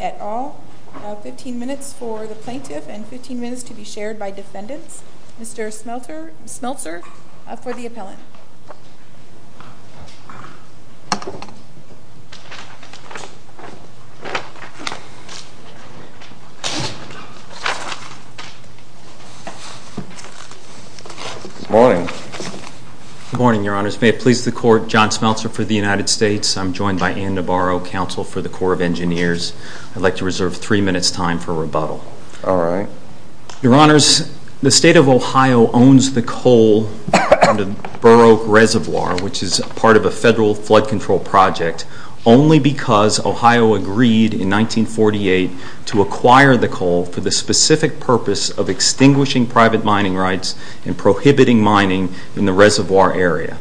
At all. 15 minutes for the plaintiff and 15 minutes to be shared by defendants. Mr. Smeltzer for the appellant. Good morning. Good morning, your honors. May it please the court, John Smeltzer for the United States. I'm joined by Anne Nabarro, counsel for the Corps of Engineers. I'd like to reserve three minutes time for rebuttal. Your honors, the State of Ohio owns the coal from the Burr Oak Reservoir, which is part of a federal flood control project, only because Ohio agreed in 1948 to acquire the coal for the specific purpose of extinguishing private mining rights and prohibiting mining in the reservoir area.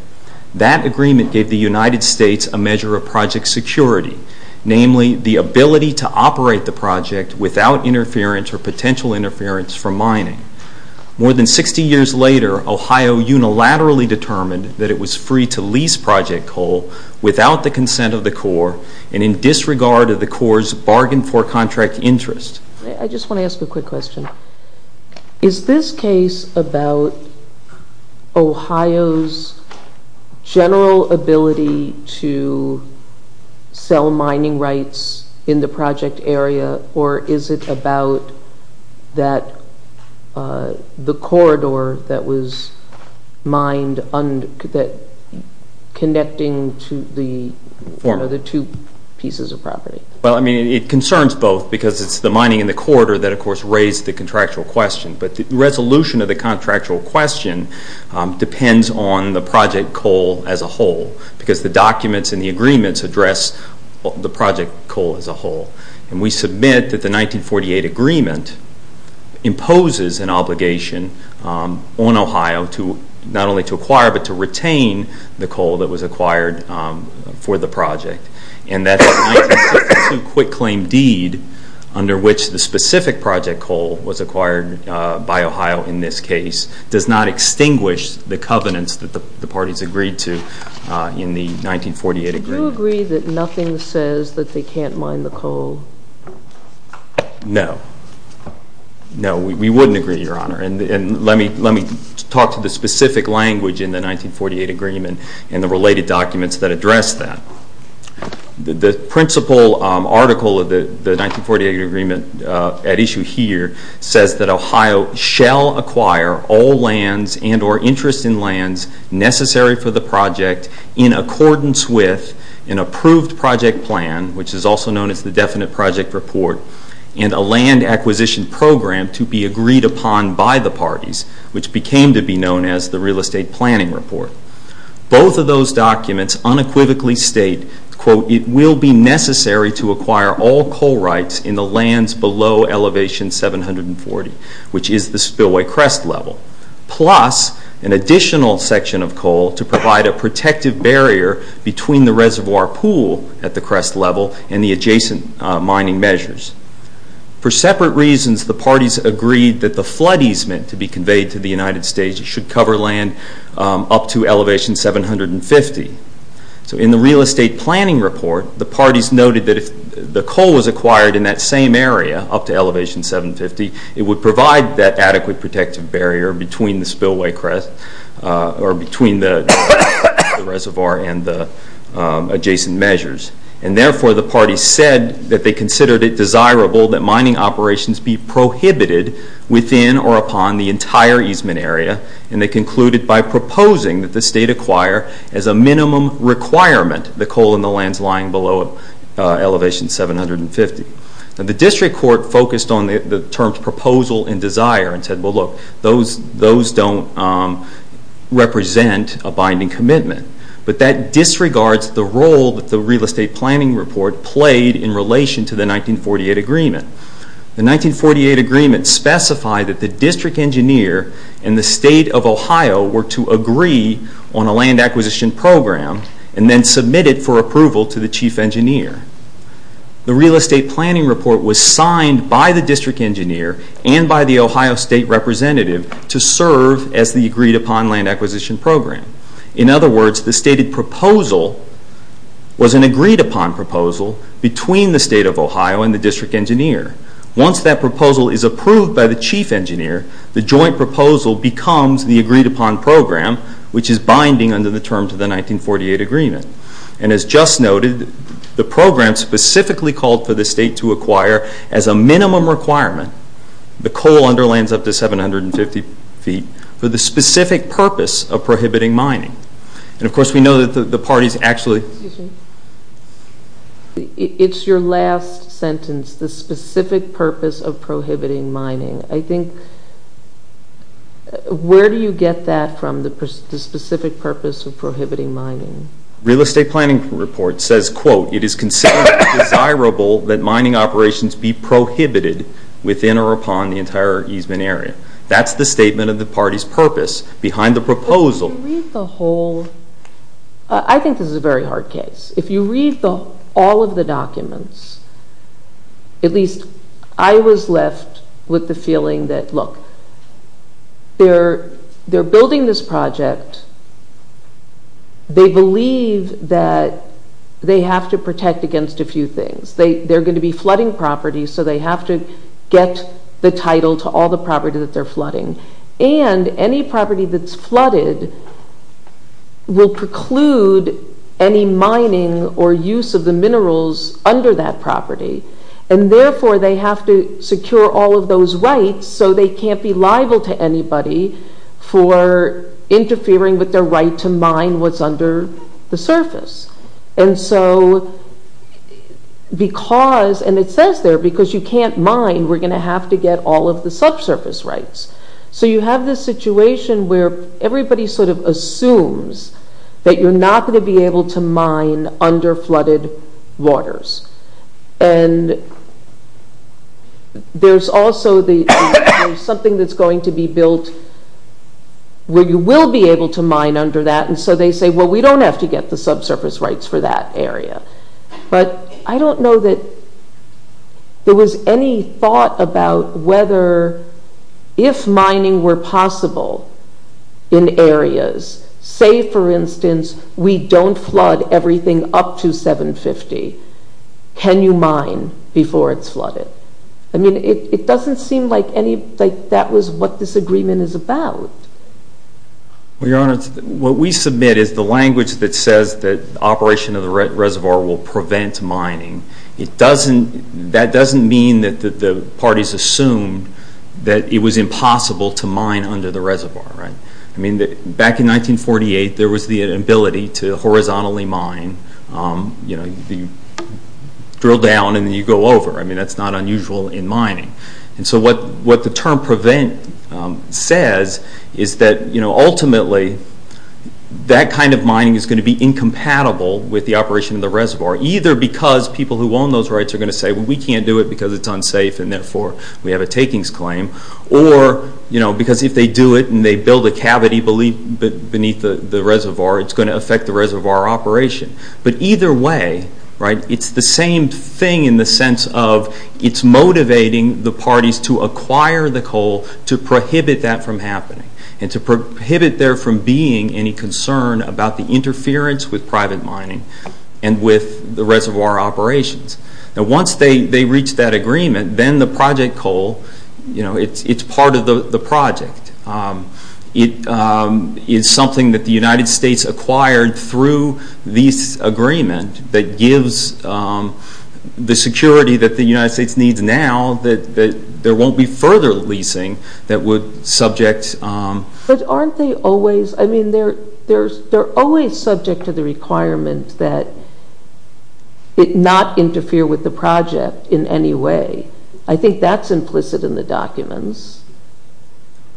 That agreement gave the United States a measure of project security, namely the ability to operate the project without interference or potential interference from mining. More than 60 years later, Ohio unilaterally determined that it was free to lease project coal without the consent of the Corps and in disregard of the Corps' bargain for contract interest. I just want to ask a quick question. Is this case about Ohio's general ability to sell mining rights in the project area or is it about the corridor that was mined connecting the two pieces of property? It concerns both because it's the mining in the corridor that of course raised the contractual question, but the resolution of the contractual question depends on the project coal as a whole because the documents and the agreements address the project coal as a whole. And we submit that the 1948 agreement imposes an obligation on Ohio not only to acquire but to retain the coal that was acquired for the project. And that's a 1962 quick claim deed under which the specific project coal was acquired by Ohio in this case does not extinguish the covenants that the parties agreed to in the 1948 agreement. Do you agree that nothing says that they can't mine the coal? No. No, we wouldn't agree, Your Honor. And let me talk to the specific language in the 1948 agreement and the related documents that address that. The principal article of the 1948 agreement at issue here says that Ohio shall acquire all lands and or interest in lands necessary for the project in accordance with an approved project plan, which is also known as the definite project report, and a land acquisition program to be agreed upon by the parties, which became to be known as the real estate planning report. Both of those documents unequivocally state, quote, it will be necessary to acquire all coal rights in the lands below elevation 740, which is the spillway crest level, plus an additional section of coal to provide a protective barrier between the reservoir pool at the crest level and the adjacent mining measures. For separate reasons, the parties agreed that the flood easement to be conveyed to the United States should cover land up to elevation 750. So in the real estate planning report, the parties noted that if the coal was acquired in that same area, up to elevation 750, it would provide that adequate protective barrier between the spillway crest or between the reservoir and the adjacent measures. And therefore, the parties said that they considered it desirable that mining operations be prohibited within or upon the entire easement area, and they concluded by proposing that the state acquire as a minimum requirement the coal in the lands lying below elevation 750. The district court focused on the terms proposal and desire and said, well, look, those don't represent a binding commitment, but that disregards the role that the real estate planning report played in relation to the 1948 agreement. The 1948 agreement specified that the district engineer and the state of Ohio were to agree on a land acquisition program and then submit it for approval to the chief engineer. The real estate planning report was signed by the district engineer and by the Ohio state representative to serve as the agreed upon land acquisition program. In other words, the stated proposal was an agreed upon proposal between the state of Ohio and the district engineer. Once that proposal is approved by the chief engineer, the joint proposal becomes the agreed upon program, which is binding under the terms of the 1948 agreement. And as just noted, the program specifically called for the state to acquire as a minimum requirement the coal under lands up to 750 feet for the specific purpose of prohibiting mining. And of course, we know that the parties actually... Excuse me. It's your last sentence, the specific purpose of prohibiting mining. I think, where do you get that from, the specific purpose of prohibiting mining? Real estate planning report says, quote, it is considered desirable that mining operations be prohibited within or upon the entire easement area. That's the statement of the party's purpose behind the proposal. If you read the whole... I think this is a very hard case. If you read all of the documents, at least I was left with the feeling that, look, they're building this project. They believe that they have to protect against a few things. They're going to be flooding property, so they have to get the title to all the property that they're flooding. And any property that's flooded will preclude any mining or use of the minerals under that property. And therefore, they have to secure all of those rights, so they can't be liable to anybody for interfering with their right to mine what's under the surface. And so, because, and it says there, because you can't mine, we're going to have to get all of the subsurface rights. So you have this situation where everybody sort of assumes that you're not going to be able to mine under flooded waters. And there's also something that's going to be built where you will be able to mine under that. And so they say, well, we don't have to get the subsurface rights for that area. But I don't know that there was any thought about whether, if mining were possible in areas, say, for instance, we don't flood everything up to 750, can you mine before it's flooded? I mean, it doesn't seem like that was what this agreement is about. Well, Your Honor, what we submit is the language that says that operation of the reservoir will prevent mining. It doesn't, that doesn't mean that the parties assumed that it was impossible to mine under the reservoir, right? I mean, back in 1948, there was the ability to horizontally mine, you know, you drill down and then you go over. I mean, that's not unusual in mining. And so what the term prevent says is that, you know, ultimately that kind of mining is going to be incompatible with the operation of the reservoir, either because people who own those rights are going to say, well, we can't do it because it's unsafe and therefore we have a takings claim, or, you know, because if they do it and they build a cavity beneath the reservoir, it's going to affect the reservoir operation. But either way, right, it's the same thing in the sense of it's motivating the parties to acquire the coal to prohibit that from happening and to prohibit there from being any concern about the interference with private mining and with the reservoir operations. Now, once they reach that agreement, then the project coal, you know, it's part of the project. It is something that the United States acquired through this agreement that gives the security that the United States needs now that there won't be further leasing that would subject... But aren't they always, I mean, they're always subject to the requirement that it not interfere with the project in any way. I think that's implicit in the documents.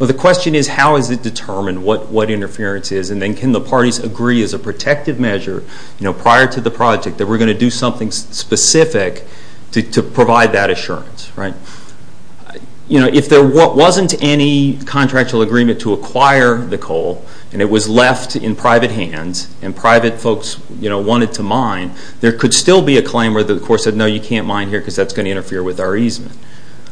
Well, the question is how is it determined what interference is and then can the parties agree as a protective measure, you know, prior to the project that we're going to do something specific to provide that assurance, right? You know, if there wasn't any contractual agreement to acquire the coal and it was left in private hands and private folks, you know, wanted to mine, there could still be a claim where the Corps said, no, you can't mine here because that's going to interfere with our easement.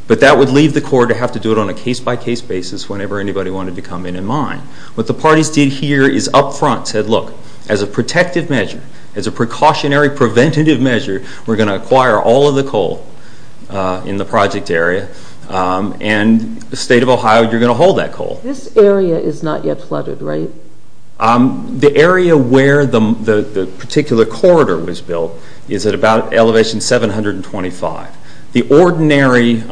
But that would leave the Corps to have to do it on a case-by-case basis whenever anybody wanted to come in and mine. What the parties did here is up front said, look, as a protective measure, as a precautionary preventative measure, we're going to acquire all of the coal in the project area and the state of Ohio, you're going to hold that coal. This area is not yet flooded, right? The area where the particular corridor was built is at about elevation 725. The ordinary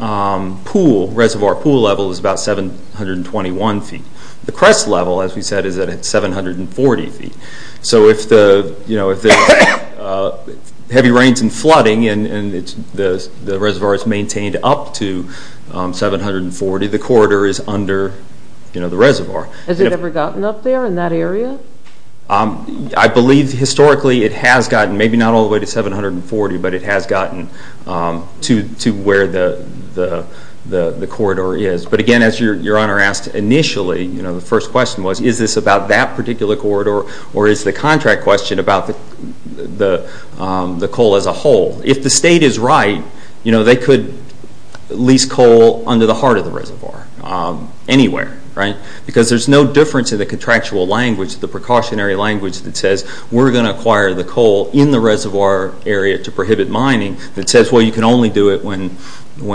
pool, reservoir pool level is about 721 feet. The crest level, as we said, is at 740 feet. So if heavy rains and flooding and the reservoir is maintained up to 740, the corridor is under the reservoir. Has it ever gotten up there in that area? I believe historically it has gotten, maybe not all the way to 740, but it has gotten to where the corridor is. But again, as Your Honor asked initially, the first question was, is this about that particular corridor or is the contract question about the coal as a whole? If the state is right, they could lease coal under the heart of the reservoir anywhere, right? Because there's no difference in the contractual language, the precautionary language that says we're going to acquire the coal in the reservoir area to prohibit mining that says, well, you can only do it when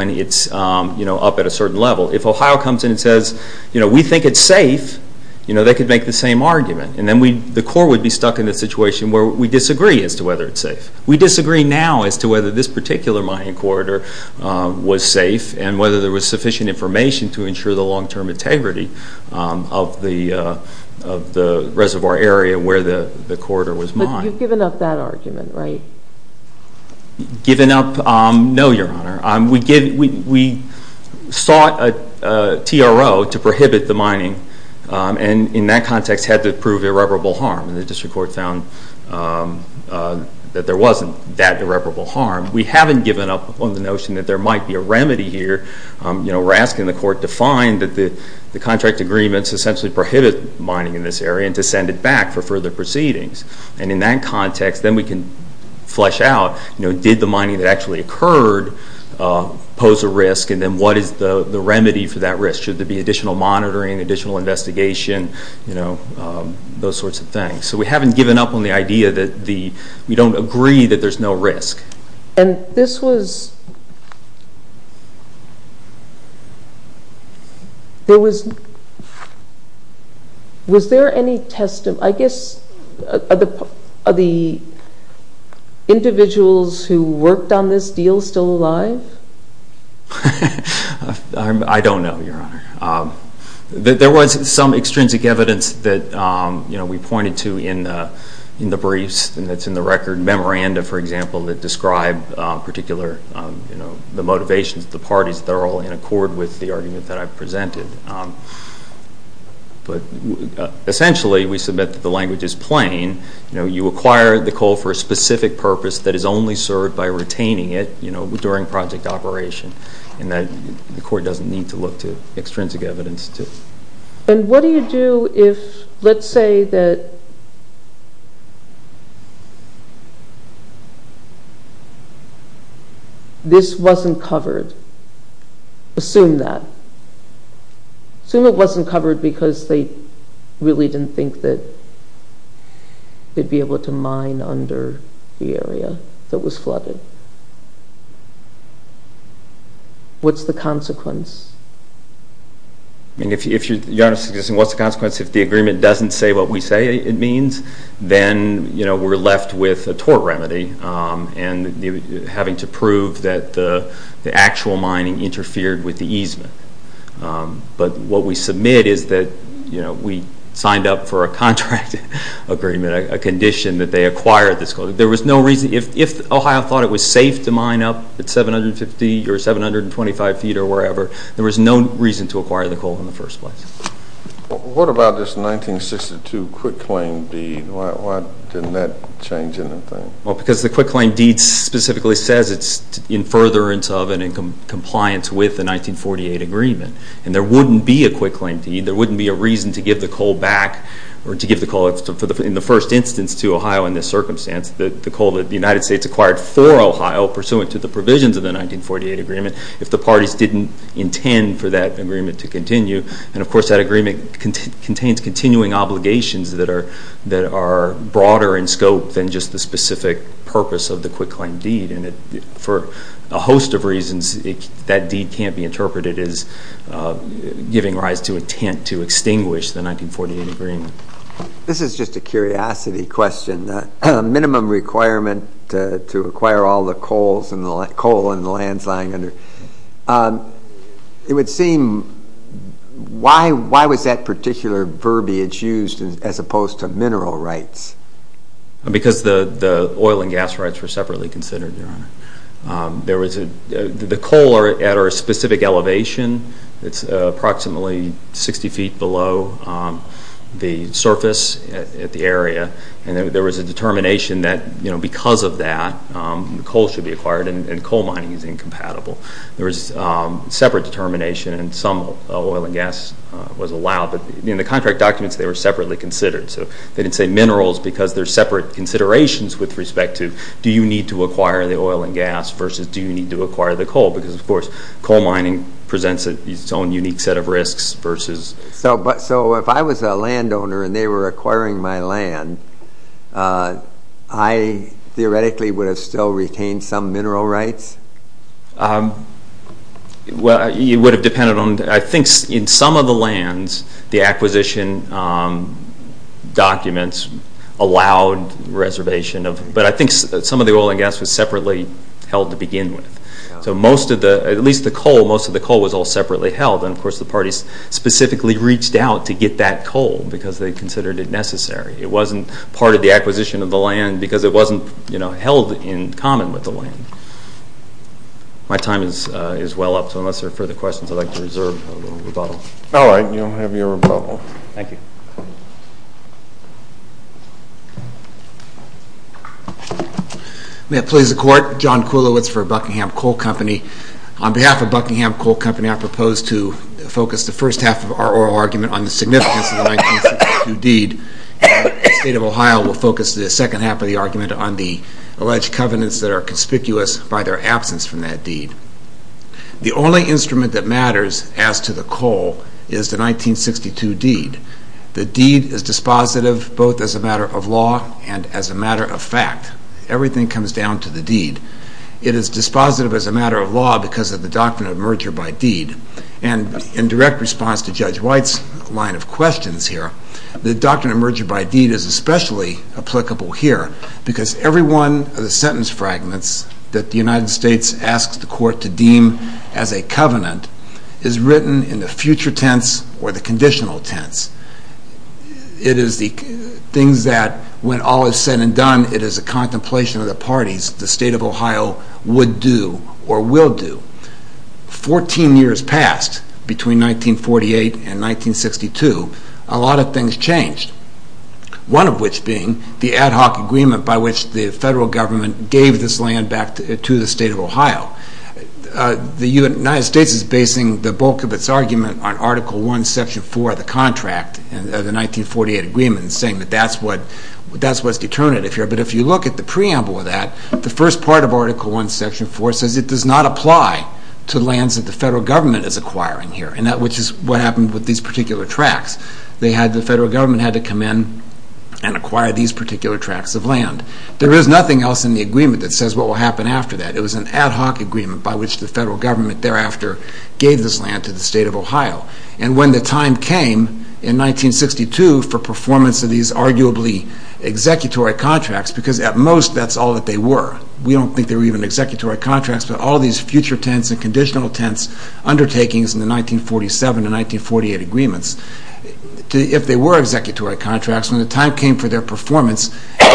it's up at a certain level. If Ohio comes in and says, we think it's safe, they could make the same argument. And then the Corps would be stuck in a situation where we disagree as to whether it's safe. We disagree now as to whether this particular mining corridor was safe and whether there was sufficient information to ensure the long-term integrity of the reservoir area where the corridor was mined. But you've given up that argument, right? Given up? No, Your Honor. We sought a TRO to prohibit the mining and in that context had to prove irreparable harm. And the district court found that there wasn't that irreparable harm. We haven't given up on the notion that there might be a remedy here. We're asking the court to find that the contract agreements essentially prohibit mining in this area and to send it back for further proceedings. And in that context, then we can flesh out, did the mining that actually occurred pose a risk and then what is the remedy for that risk? Should there be additional monitoring, additional investigation, those sorts of things? So we haven't given up on the idea that we don't agree that there's no risk. And this was, there was, was there any testimony, I guess, are the individuals who worked on this deal still alive? I don't know, Your Honor. There was some extrinsic evidence that, you know, we pointed to in the briefs and it's in the record memoranda, for example, that describe particular, you know, the motivations of the parties that are all in accord with the argument that I presented. But essentially we submit that the language is plain. You know, you acquire the coal for a specific purpose that is only served by retaining it, you know, during project operation and that the court doesn't need to look to extrinsic evidence to. And what do you do if, let's say that this wasn't covered? Assume that. Assume it wasn't covered because they really didn't think that they'd be able to mine under the area that was flooded. What's the consequence? I mean, if, Your Honor, what's the consequence if the agreement doesn't say what we say it means? Then, you know, we're left with a tort remedy and having to prove that the actual mining interfered with the easement. But what we submit is that, you know, we signed up for a contract agreement, a condition that they acquired this coal. There was no reason, if Ohio thought it was safe to mine up at 750 or 725 feet or wherever, there was no reason to acquire the coal in the first place. What about this 1962 quick claim deed? Why didn't that change anything? Well, because the quick claim deed specifically says it's in furtherance of and in compliance with the 1948 agreement. And there wouldn't be a quick claim deed, there wouldn't be a reason to give the coal back or to give the coal in the first instance to Ohio in this circumstance. The coal that the United States acquired for Ohio, pursuant to the provisions of the 1948 agreement, if the parties didn't intend for that agreement to continue, and, of course, that agreement contains continuing obligations that are broader in scope than just the specific purpose of the quick claim deed. And for a host of reasons, that deed can't be interpreted as giving rise to intent to extinguish the 1948 agreement. This is just a curiosity question. Minimum requirement to acquire all the coal in the lands lying under. It would seem, why was that particular verbiage used as opposed to mineral rights? Because the oil and gas rights were separately considered, Your Honor. The coal are at our specific elevation. It's approximately 60 feet below the surface at the area. And there was a determination that because of that, the coal should be acquired and coal mining is incompatible. There was a separate determination and some oil and gas was allowed. But in the contract documents, they were separately considered. So they didn't say minerals because they're separate considerations with respect to do you need to acquire the oil and gas versus do you need to acquire the coal? Because, of course, coal mining presents its own unique set of risks versus... So if I was a landowner and they were acquiring my land, I theoretically would have still retained some mineral rights? It would have depended on, I think in some of the lands, the acquisition documents allowed reservation. But I think some of the oil and gas was separately held to begin with. So most of the, at least the coal, most of the coal was all separately held. And, of course, the parties specifically reached out to get that coal because they considered it necessary. It wasn't part of the acquisition of the land because it wasn't held in common with the land. My time is well up, so unless there are further questions, I'd like to reserve a little rebuttal. All right. You have your rebuttal. Thank you. May it please the Court. John Kulowitz for Buckingham Coal Company. On behalf of Buckingham Coal Company, I propose to focus the first half of our oral argument on the significance of the 1962 deed. The State of Ohio will focus the second half of the argument on the alleged covenants that are conspicuous by their absence from that deed. The only instrument that matters as to the coal is the 1962 deed. The deed is dispositive both as a matter of law and as a matter of fact. Everything comes down to the deed. It is dispositive as a matter of law because of the Doctrine of Merger by Deed. And in direct response to Judge White's line of questions here, the Doctrine of Merger by Deed is especially applicable here because every one of the sentence fragments that the United States asks the Court to deem as a covenant is written in the future tense or the conditional tense. It is the things that when all is said and done, it is a contemplation of the parties the State of Ohio would do or will do. Fourteen years passed between 1948 and 1962. A lot of things changed, one of which being the ad hoc agreement by which the federal government gave this land back to the State of Ohio. The United States is basing the bulk of its argument on Article I, Section 4 of the contract of the 1948 agreement and saying that that's what's determinative here. But if you look at the preamble of that, the first part of Article I, Section 4 says it does not apply to lands that the federal government is acquiring here, which is what happened with these particular tracts. The federal government had to come in and acquire these particular tracts of land. There is nothing else in the agreement that says what will happen after that. It was an ad hoc agreement by which the federal government thereafter gave this land to the State of Ohio. And when the time came in 1962 for performance of these arguably executory contracts, because at most that's all that they were, we don't think they were even executory contracts, but all these future tense and conditional tense undertakings in the 1947 and 1948 agreements, if they were executory contracts, when the time came for their performance in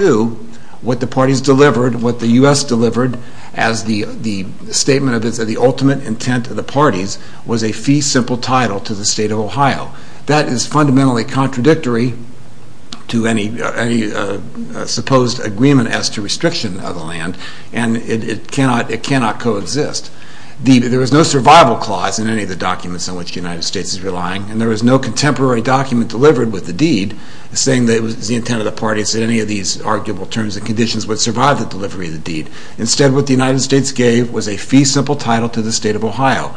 1962, what the parties delivered, what the U.S. delivered as the statement of the ultimate intent of the parties was a fee simple title to the State of Ohio. That is fundamentally contradictory to any supposed agreement as to restriction of the land and it cannot coexist. There is no survival clause in any of the documents in which the United States is relying and there is no contemporary document delivered with the deed saying that it was the intent of the parties that any of these arguable terms and conditions would survive the delivery of the deed. Instead what the United States gave was a fee simple title to the State of Ohio.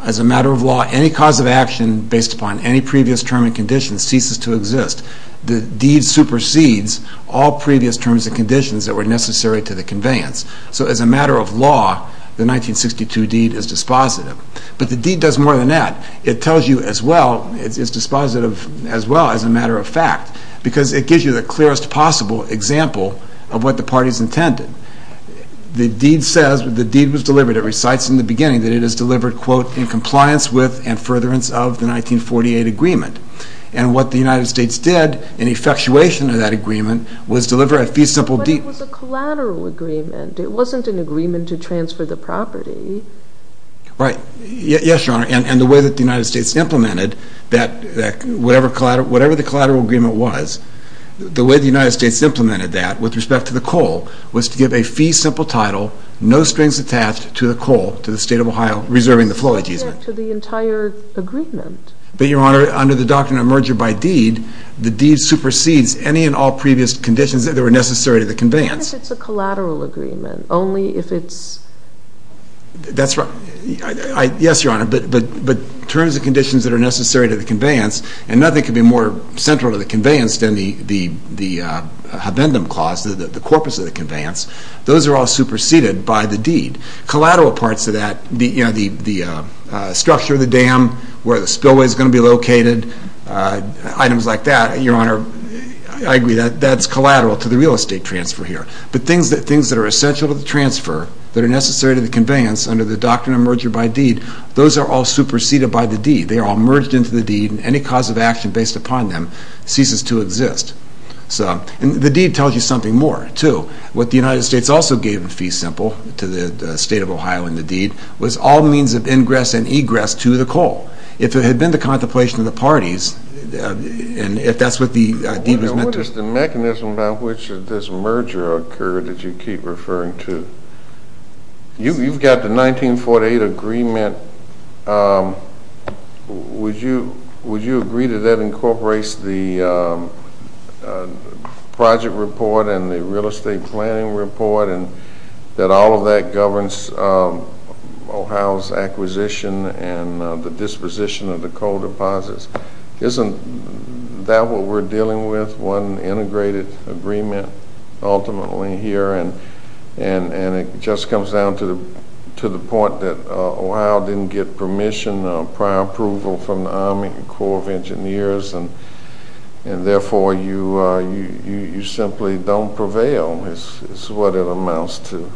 As a matter of law, any cause of action based upon any previous term and condition ceases to exist. The deed supersedes all previous terms and conditions that were necessary to the conveyance. So as a matter of law, the 1962 deed is dispositive. But the deed does more than that. It tells you as well, it's dispositive as well as a matter of fact, because it gives you the clearest possible example of what the parties intended. The deed says, the deed was delivered, but it recites in the beginning that it is delivered, quote, in compliance with and furtherance of the 1948 agreement. And what the United States did in effectuation of that agreement was deliver a fee simple deed. But it was a collateral agreement. It wasn't an agreement to transfer the property. Right. Yes, Your Honor. And the way that the United States implemented that whatever the collateral agreement was, the way the United States implemented that with respect to the coal was to give a fee simple title, no strings attached to the coal, to the State of Ohio reserving the flow ageasement. But back to the entire agreement. But, Your Honor, under the Doctrine of Merger by Deed, the deed supersedes any and all previous conditions that were necessary to the conveyance. Even if it's a collateral agreement, only if it's... That's right. Yes, Your Honor. But terms and conditions that are necessary to the conveyance, and nothing could be more central to the conveyance than the habendum clause, the corpus of the conveyance, those are all superseded by the deed. Collateral parts of that, you know, the structure of the dam, where the spillway is going to be located, items like that, Your Honor, I agree, that's collateral to the real estate transfer here. But things that are essential to the transfer that are necessary to the conveyance under the Doctrine of Merger by Deed, those are all superseded by the deed. They are all merged into the deed, and any cause of action based upon them ceases to exist. And the deed tells you something more, too. What the United States also gave in Fee Simple to the State of Ohio in the deed was all means of ingress and egress to the coal. If it had been the contemplation of the parties, and if that's what the deed was meant to... What is the mechanism by which this merger occurred that you keep referring to? You've got the 1948 agreement. Would you agree that that incorporates the project report and the real estate planning report and that all of that governs Ohio's acquisition and the disposition of the coal deposits? Isn't that what we're dealing with, one integrated agreement ultimately here? And it just comes down to the point that Ohio didn't get permission, prior approval, from the Army Corps of Engineers, and therefore you simply don't prevail, is what it amounts to.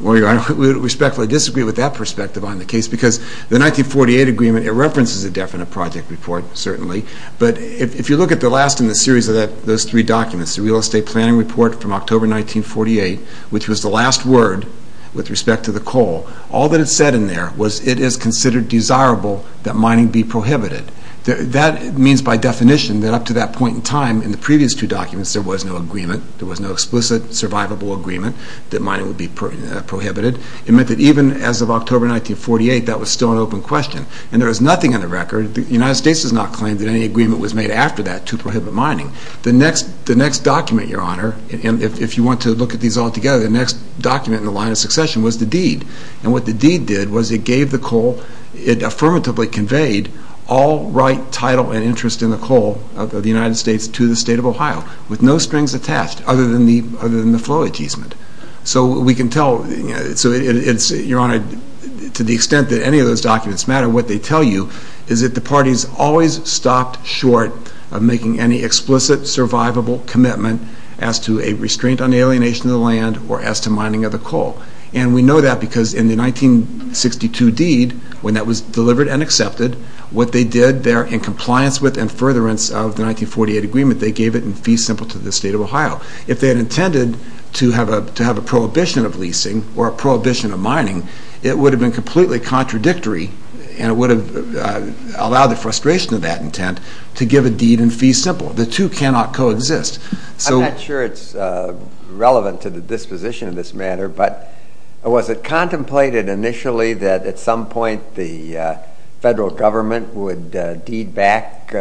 Well, Your Honor, I respectfully disagree with that perspective on the case, because the 1948 agreement, it references a definite project report, certainly, but if you look at the last in the series of those three documents, the real estate planning report from October 1948, which was the last word with respect to the coal, all that it said in there was, it is considered desirable that mining be prohibited. That means by definition that up to that point in time in the previous two documents there was no agreement, there was no explicit survivable agreement that mining would be prohibited. It meant that even as of October 1948, that was still an open question, and there was nothing in the record, the United States has not claimed that any agreement was made after that to prohibit mining. The next document, Your Honor, and if you want to look at these all together, the next document in the line of succession was the deed, and what the deed did was it gave the coal, it affirmatively conveyed all right, title, and interest in the coal of the United States to the state of Ohio, with no strings attached other than the flow agreement. So we can tell, Your Honor, to the extent that any of those documents matter, what they tell you is that the parties always stopped short of making any explicit survivable commitment as to a restraint on alienation of the land or as to mining of the coal. And we know that because in the 1962 deed, when that was delivered and accepted, what they did there in compliance with and furtherance of the 1948 agreement, they gave it in fee simple to the state of Ohio. If they had intended to have a prohibition of leasing or a prohibition of mining, it would have been completely contradictory, and it would have allowed the frustration of that intent to give a deed in fee simple. The two cannot coexist. I'm not sure it's relevant to the disposition of this matter, but was it contemplated initially that at some point the federal government would deed back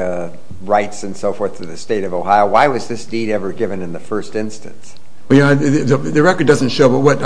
rights and so forth to the state of Ohio? Why was this deed ever given in the first instance? The record doesn't show, but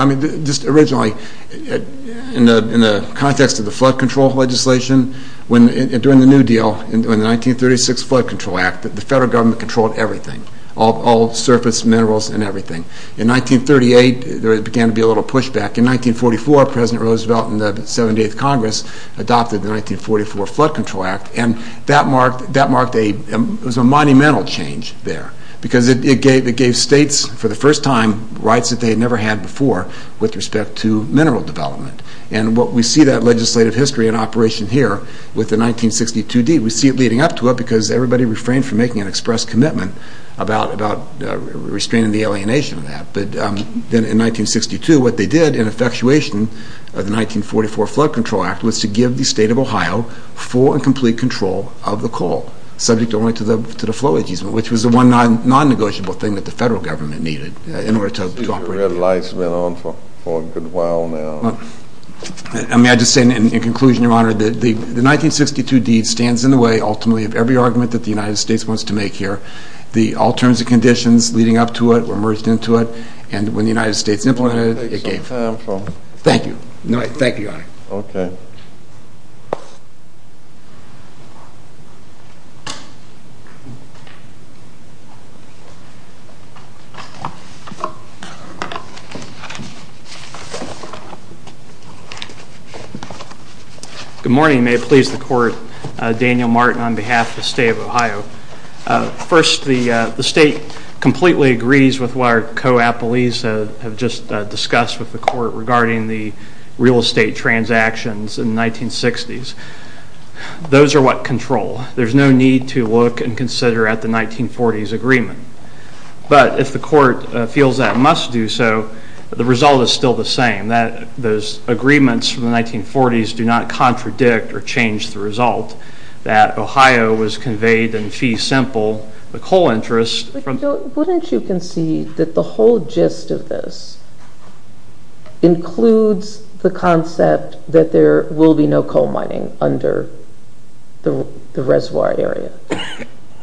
just originally, in the context of the flood control legislation, during the New Deal, in the 1936 Flood Control Act, the federal government controlled everything, all surface minerals and everything. In 1938, there began to be a little pushback. In 1944, President Roosevelt and the 78th Congress adopted the 1944 Flood Control Act, and that marked a monumental change there because it gave states, for the first time, rights that they had never had before with respect to mineral development. And we see that legislative history in operation here with the 1962 deed. We see it leading up to it because everybody refrained from making an express commitment about restraining the alienation of that. But then in 1962, what they did in effectuation of the 1944 Flood Control Act was to give the state of Ohio full and complete control of the coal, subject only to the flow agency, which was the one non-negotiable thing that the federal government needed in order to operate. The red light's been on for a good while now. May I just say, in conclusion, Your Honor, the 1962 deed stands in the way, ultimately, of every argument that the United States wants to make here, the alternative conditions leading up to it were merged into it, and when the United States implemented it, it gave. Thank you. Thank you, Your Honor. Okay. Good morning. May it please the Court, Daniel Martin on behalf of the state of Ohio. First, the state completely agrees with what our co-appellees have just discussed with the Court regarding the real estate transactions in the 1960s. Those are what control. There's no need to look and consider at the 1940s agreement. But if the Court feels that it must do so, the result is still the same, that those agreements from the 1940s do not contradict or change the result that Ohio was conveyed in fee simple the coal interest from... Wouldn't you concede that the whole gist of this includes the concept that there will be no coal mining under the reservoir area?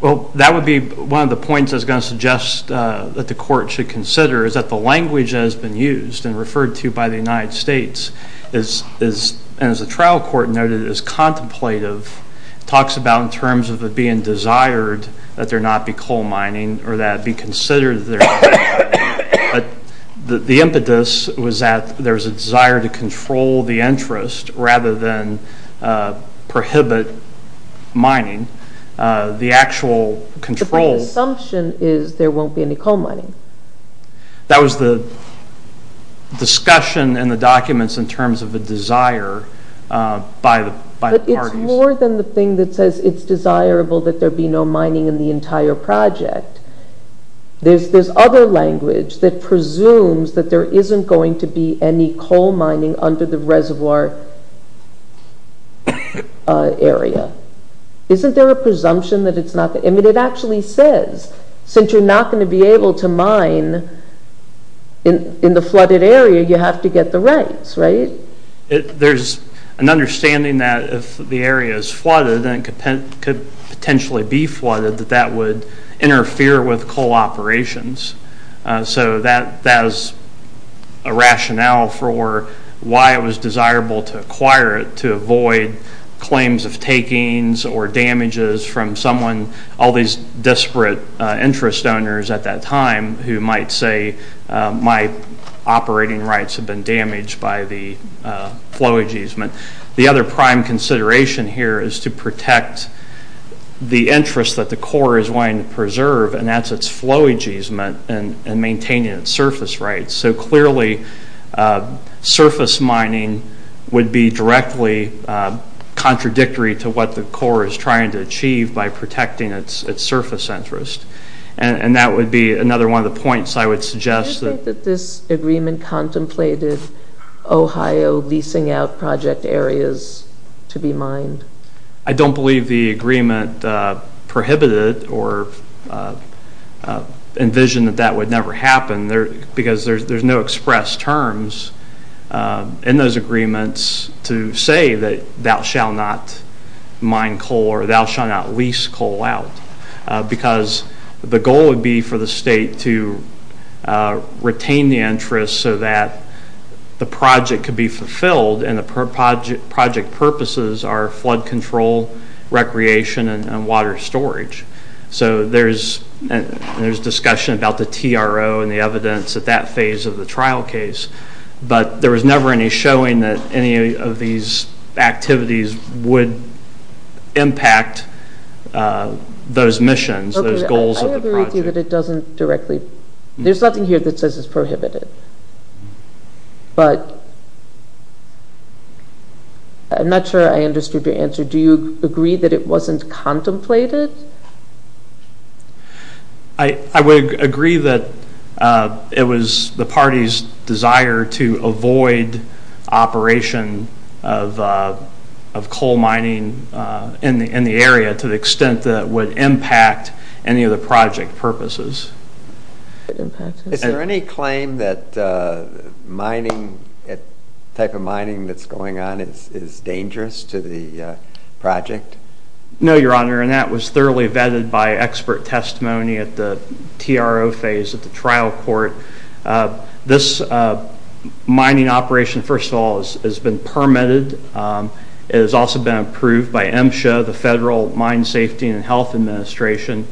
Well, that would be one of the points I was going to suggest that the Court should consider is that the language that has been used and referred to by the United States is, as the trial court noted, is contemplative. It talks about in terms of it being desired that there not be coal mining or that it be considered there... The impetus was that there's a desire to control the interest rather than prohibit mining. The actual control... But the assumption is there won't be any coal mining. That was the discussion in the documents in terms of the desire by the parties. But it's more than the thing that says it's desirable that there be no mining in the entire project. There's other language that presumes that there isn't going to be any coal mining under the reservoir area. Isn't there a presumption that it's not... I mean, it actually says since you're not going to be able to mine in the flooded area, you have to get the rights, right? There's an understanding that if the area is flooded and could potentially be flooded, that that would interfere with coal operations. So that is a rationale for why it was desirable to acquire it to avoid claims of takings or damages from someone, all these disparate interest owners at that time who might say my operating rights have been damaged by the flow ageism. The other prime consideration here is to protect the interest that the core is wanting to preserve and that's its flow ageism and maintaining its surface rights. So clearly, surface mining would be directly contradictory to what the core is trying to achieve by protecting its surface interest. And that would be another one of the points I would suggest that... Ohio leasing out project areas to be mined. I don't believe the agreement prohibited or envisioned that that would never happen because there's no express terms in those agreements to say that thou shalt not mine coal or thou shalt not lease coal out because the goal would be for the state to retain the interest so that the project could be fulfilled and the project purposes are flood control, recreation, and water storage. So there's discussion about the TRO and the evidence at that phase of the trial case but there was never any showing that any of these activities would impact those missions, those goals of the project. I agree with you that it doesn't directly... There's nothing here that says it's prohibited. But... I'm not sure I understood your answer. Do you agree that it wasn't contemplated? I would agree that it was the party's desire to avoid operation of coal mining in the area to the extent that it would impact any of the project purposes. Is there any claim that mining, the type of mining that's going on is dangerous to the project? No, Your Honor, and that was thoroughly vetted by expert testimony at the TRO phase at the trial court. This mining operation, first of all, has been permitted. It has also been approved by MSHA, the Federal Mine Safety and Health Administration,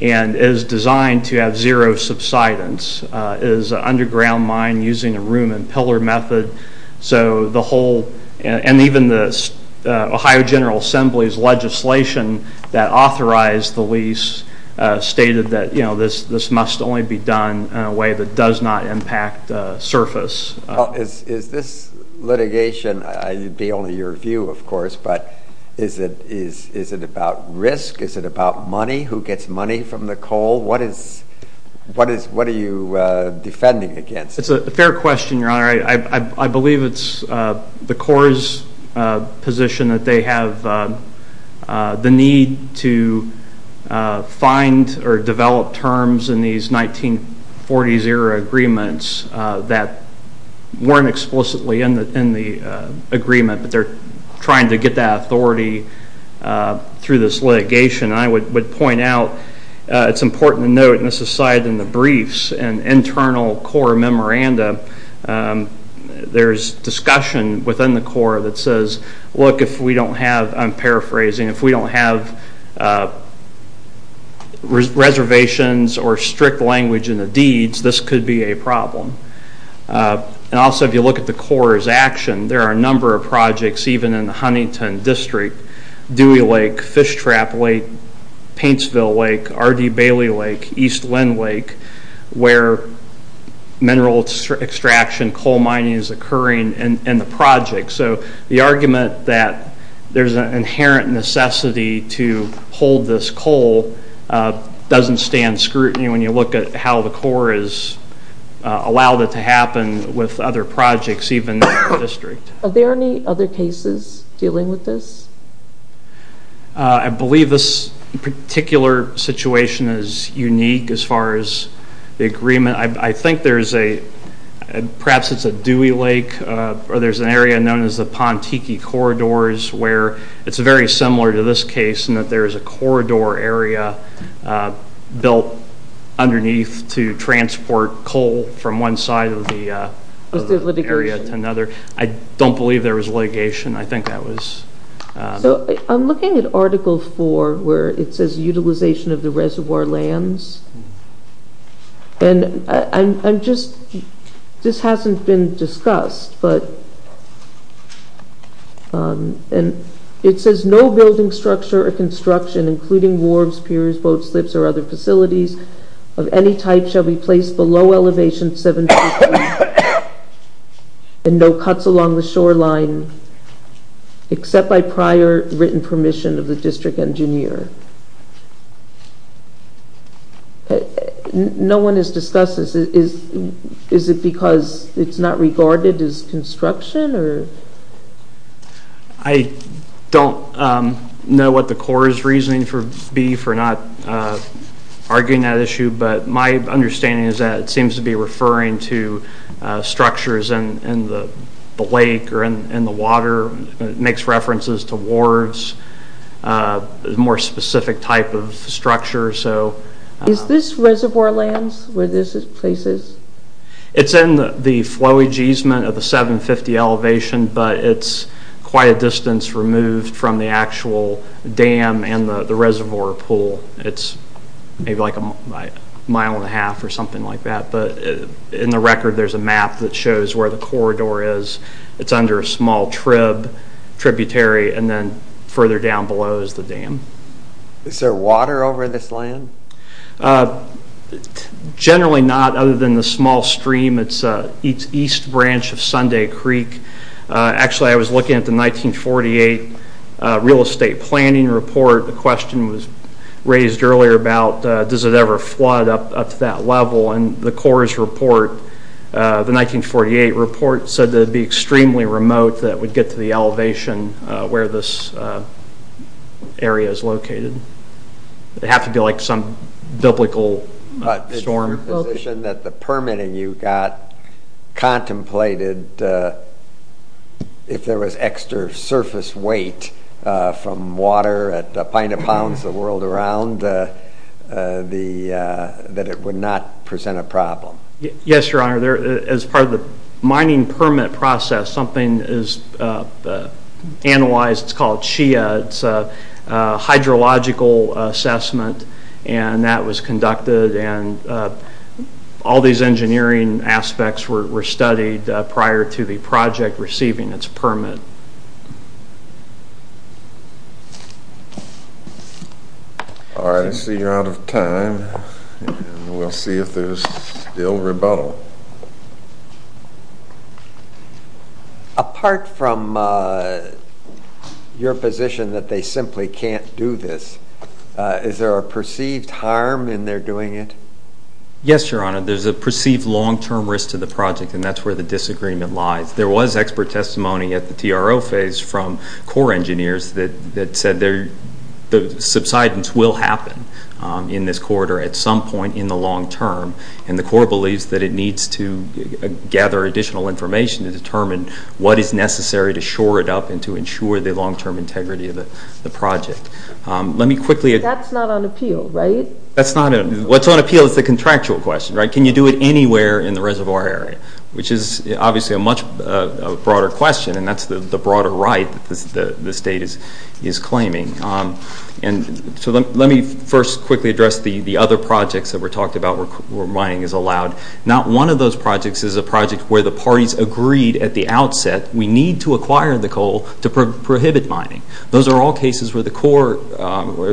and is designed to have zero subsidence. It is an underground mine using a room and pillar method, so the whole, and even the Ohio General Assembly's legislation that authorized the lease stated that, you know, this must only be done in a way that does not impact surface. Is this litigation, it would be only your view, of course, but is it about risk? Is it about money? Who gets money from the coal? What is, what is, what are you defending against? It's a fair question, Your Honor. I believe it's the Corps' position that they have the need to find or develop terms in these 1940s-era agreements that weren't explicitly in the agreement, but they're trying to get that authority through this litigation. I would point out it's important to note, and this is cited in the briefs and internal Corps memoranda, there's discussion within the Corps that says, look, if we don't have, I'm paraphrasing, if we don't have reservations or strict language in the deeds, this could be a problem. And also, if you look at the Corps' action, there are a number of projects, even in the Huntington District, Dewey Lake, Fishtrap Lake, Paintsville Lake, RD Bailey Lake, East Lynn Lake, where mineral extraction, coal mining is occurring in the project. So the argument that there's an inherent necessity to hold this coal doesn't stand scrutiny when you look at how the Corps has allowed it to happen with other projects, even in the Dewey Lake area. Do you have any other sources dealing with this? I believe this particular situation is unique as far as the agreement. I think there's a, perhaps it's a Dewey Lake, or there's an area known as the Pontiki Corridors where it's very similar to this case in that there's a corridor area built underneath to transport coal from one side of the area to another. I don't believe there was litigation. I think that was... I'm looking at Article 4 where it says utilization of the reservoir lands. And I'm just, this hasn't been discussed, but it says no building structure or construction, including wharves, piers, boat slips, or other facilities of any type shall be placed below elevation 7,000 feet and no cuts along the shoreline except by prior written permission of the district engineer. No one has discussed this. Is it because it's not regarded as construction? I don't know what the Corps' reasoning would be for not arguing that issue, but my understanding is that it seems to be referring to structures in the lake or in the water. It makes references to wharves, a more specific type of structure. Is this reservoir lands where this place is? It's in the flowage easement of the 750 elevation, but it's quite a distance removed from the actual dam and the reservoir pool. It's maybe like a mile and a half or something like that, but in the record there's a map that shows where the corridor is. It's under a small tributary, and then further down below is the dam. Is there water over this land? Generally not, other than the small stream. It's east branch of Sunday Creek. Actually, I was looking at the 1948 real estate planning report. The question was raised earlier about does it ever flood up to that level, and the Corps' report, the 1948 report said that it would be extremely remote that it would get to the elevation where this area is located. It would have to be like some biblical storm. It's your position that the permitting you got contemplated if there was extra surface weight from water at a pint of pounds the world around that it would not present a problem? Yes, your honor. As part of the mining permit process, something is analyzed. It's called CHIA. It's a hydrological assessment, and that was conducted, and all these engineering aspects were studied prior to the project. All right. I see you're out of time, and we'll see if there's still rebuttal. Apart from your position that they simply can't do this, is there a perceived harm in their doing it? Yes, your honor. There's a perceived long-term risk to the project, and that's where the disagreement lies. There was expert testimony at the TRO phase from core engineers that said the subsidence will happen in this corridor at some point in the long term, and the core believes that it needs to gather additional information to determine what is necessary to shore it up and to ensure the long-term integrity of the project. Let me quickly... That's not on appeal, right? What's on appeal is the contractual question. Can you do it anywhere in the reservoir area? Which is obviously a much broader question, and that's the broader right that the state is claiming. Let me first quickly address the other projects that were talked about where mining is allowed. Not one of those projects is a project where the parties agreed at the outset, we need to acquire the coal to prohibit mining. Those are all cases where the core...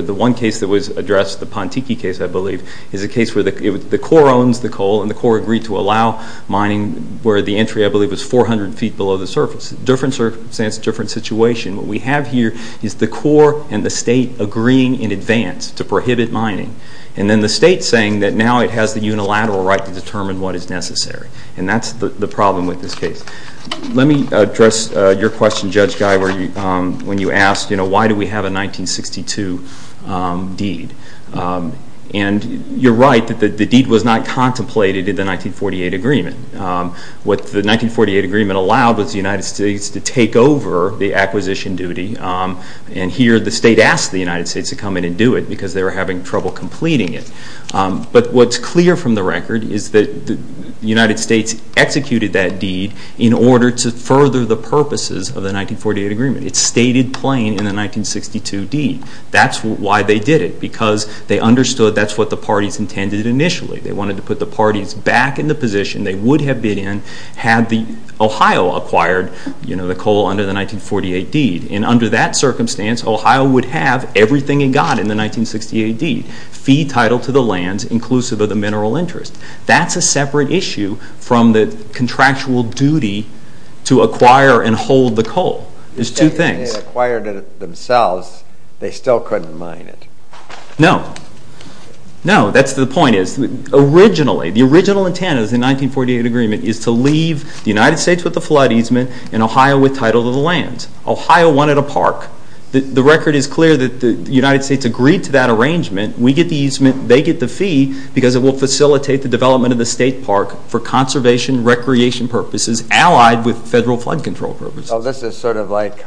The one case that was addressed, the Pontiki case, I believe, is a case where the core owns the coal and the core agreed to allow mining where the entry, I believe, is 400 feet below the surface. Different circumstance, different situation. What we have here is the core and the state agreeing in advance to prohibit mining. And then the state saying that now it has the unilateral right to determine what is necessary. And that's the problem with this case. Let me address your question, Judge Guy, when you asked why do we have a 1962 deed. And you're right that the deed was not contemplated in the 1948 agreement. What the 1948 agreement allowed was the United States to take over the acquisition duty. And here the state asked the United States to come in and do it because they were having trouble completing it. But what's clear from the record is that the United States executed that deed in order to further the purposes of the 1948 agreement. It's stated plain in the 1962 deed. That's why they did it. Because they understood that's what the parties intended initially. They wanted to put the parties back in the position they would have been in had the Ohio acquired the coal under the 1948 deed. And under that circumstance Ohio would have everything it got in the 1968 deed. Fee title to the lands inclusive of the mineral interest. That's a separate issue from the contractual duty to acquire and hold the coal. There's two things. They acquired it themselves. They still couldn't mine it. No. No. That's the point. The original intent of the 1948 agreement is to leave the United States with the flood easement and Ohio with title to the lands. Ohio wanted a park. The record is clear that the United States agreed to that arrangement. We get the easement. They get the fee because it will facilitate the development of the state park for conservation and recreation purposes allied with federal flood control purposes. This is sort of like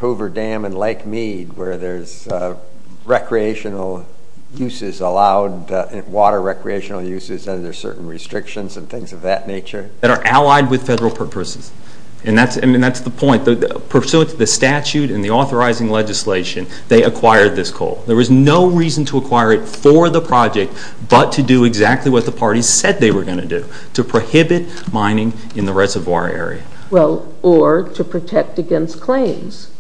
recreational uses allowed, water recreational uses and there's certain restrictions and things of that nature. That are allied with federal purposes. And that's the point. Pursuant to the statute and the authorizing legislation they acquired this coal. There was no reason to acquire it for the project but to do exactly what the parties said they were going to do. To prohibit mining in the reservoir area. Or to protect against claims.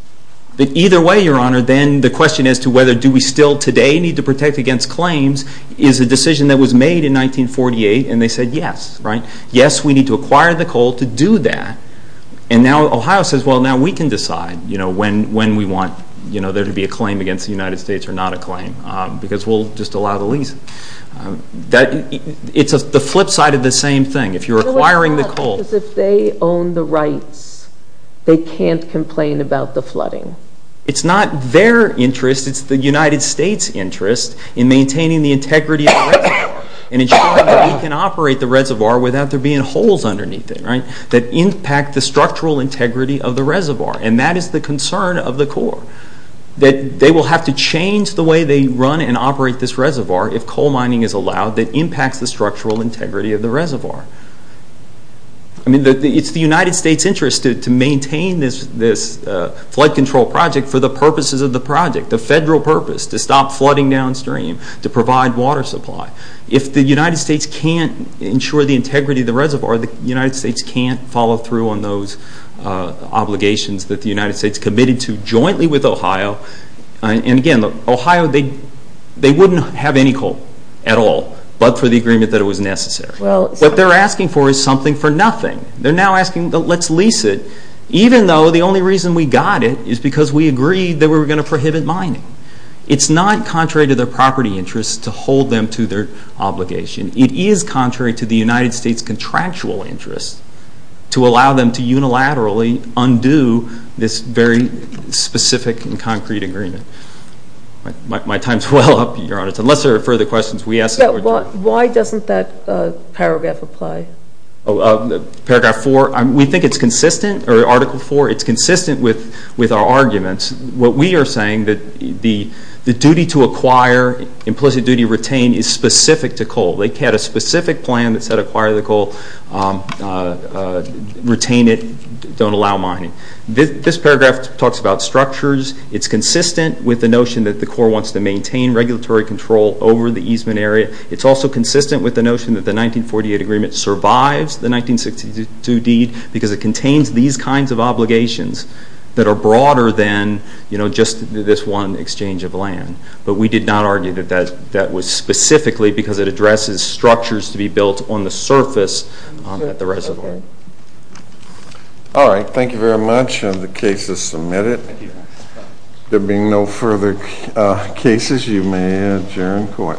But either way your honor the question as to whether do we still today need to protect against claims is a decision that was made in 1948 and they said yes. Yes we need to acquire the coal to do that. And now Ohio says well now we can decide when we want there to be a claim against the United States or not a claim. Because we'll just allow the lease. It's the flip side of the same thing. If you're acquiring the coal. If they own the rights they can't complain about the flooding. It's not their interest it's the United States interest in maintaining the integrity of the reservoir. And ensuring that we can operate the reservoir without there being holes underneath it. Right? That impact the structural integrity of the reservoir. And that is the concern of the core. That they will have to change the way they run and operate this reservoir if coal mining is allowed that impacts the structural integrity of the reservoir. I mean it's the United States interest to maintain this flood control project for the purposes of the project. The federal purpose. To stop flooding downstream. To provide water supply. If the United States can't ensure the integrity of the reservoir the United States can't follow through on those obligations that the United States committed to jointly with Ohio. And again Ohio they wouldn't have any coal at all. But for the reason that they're asking for is something for nothing. They're now asking let's lease it. Even though the only reason we got it is because we agreed that we were going to prohibit mining. It's not contrary to their property interest to hold them to their obligation. It is contrary to the United States contractual interest to allow them to unilaterally undo this very specific and concrete agreement. My time's well up Your Honor. Unless there are further questions we ask. Why doesn't that paragraph apply? Paragraph four. We think it's consistent or article four. It's consistent with our arguments. What we are saying that the duty to acquire implicit duty to retain is specific to coal. They had a specific plan that said acquire the coal. Retain it. Don't allow mining. This paragraph talks about structures. It's consistent with the notion that the Corps wants to maintain regulatory control over the easement area. It's also consistent with the notion that the 1948 agreement survives the 1962 deed because it contains these kinds of obligations that are broader than just this one exchange of land. But we did not argue that that was specifically because it addresses structures to be built on the surface at the reservoir. All right. Thank you very much. The case is submitted. There being no further cases, you may adjourn court.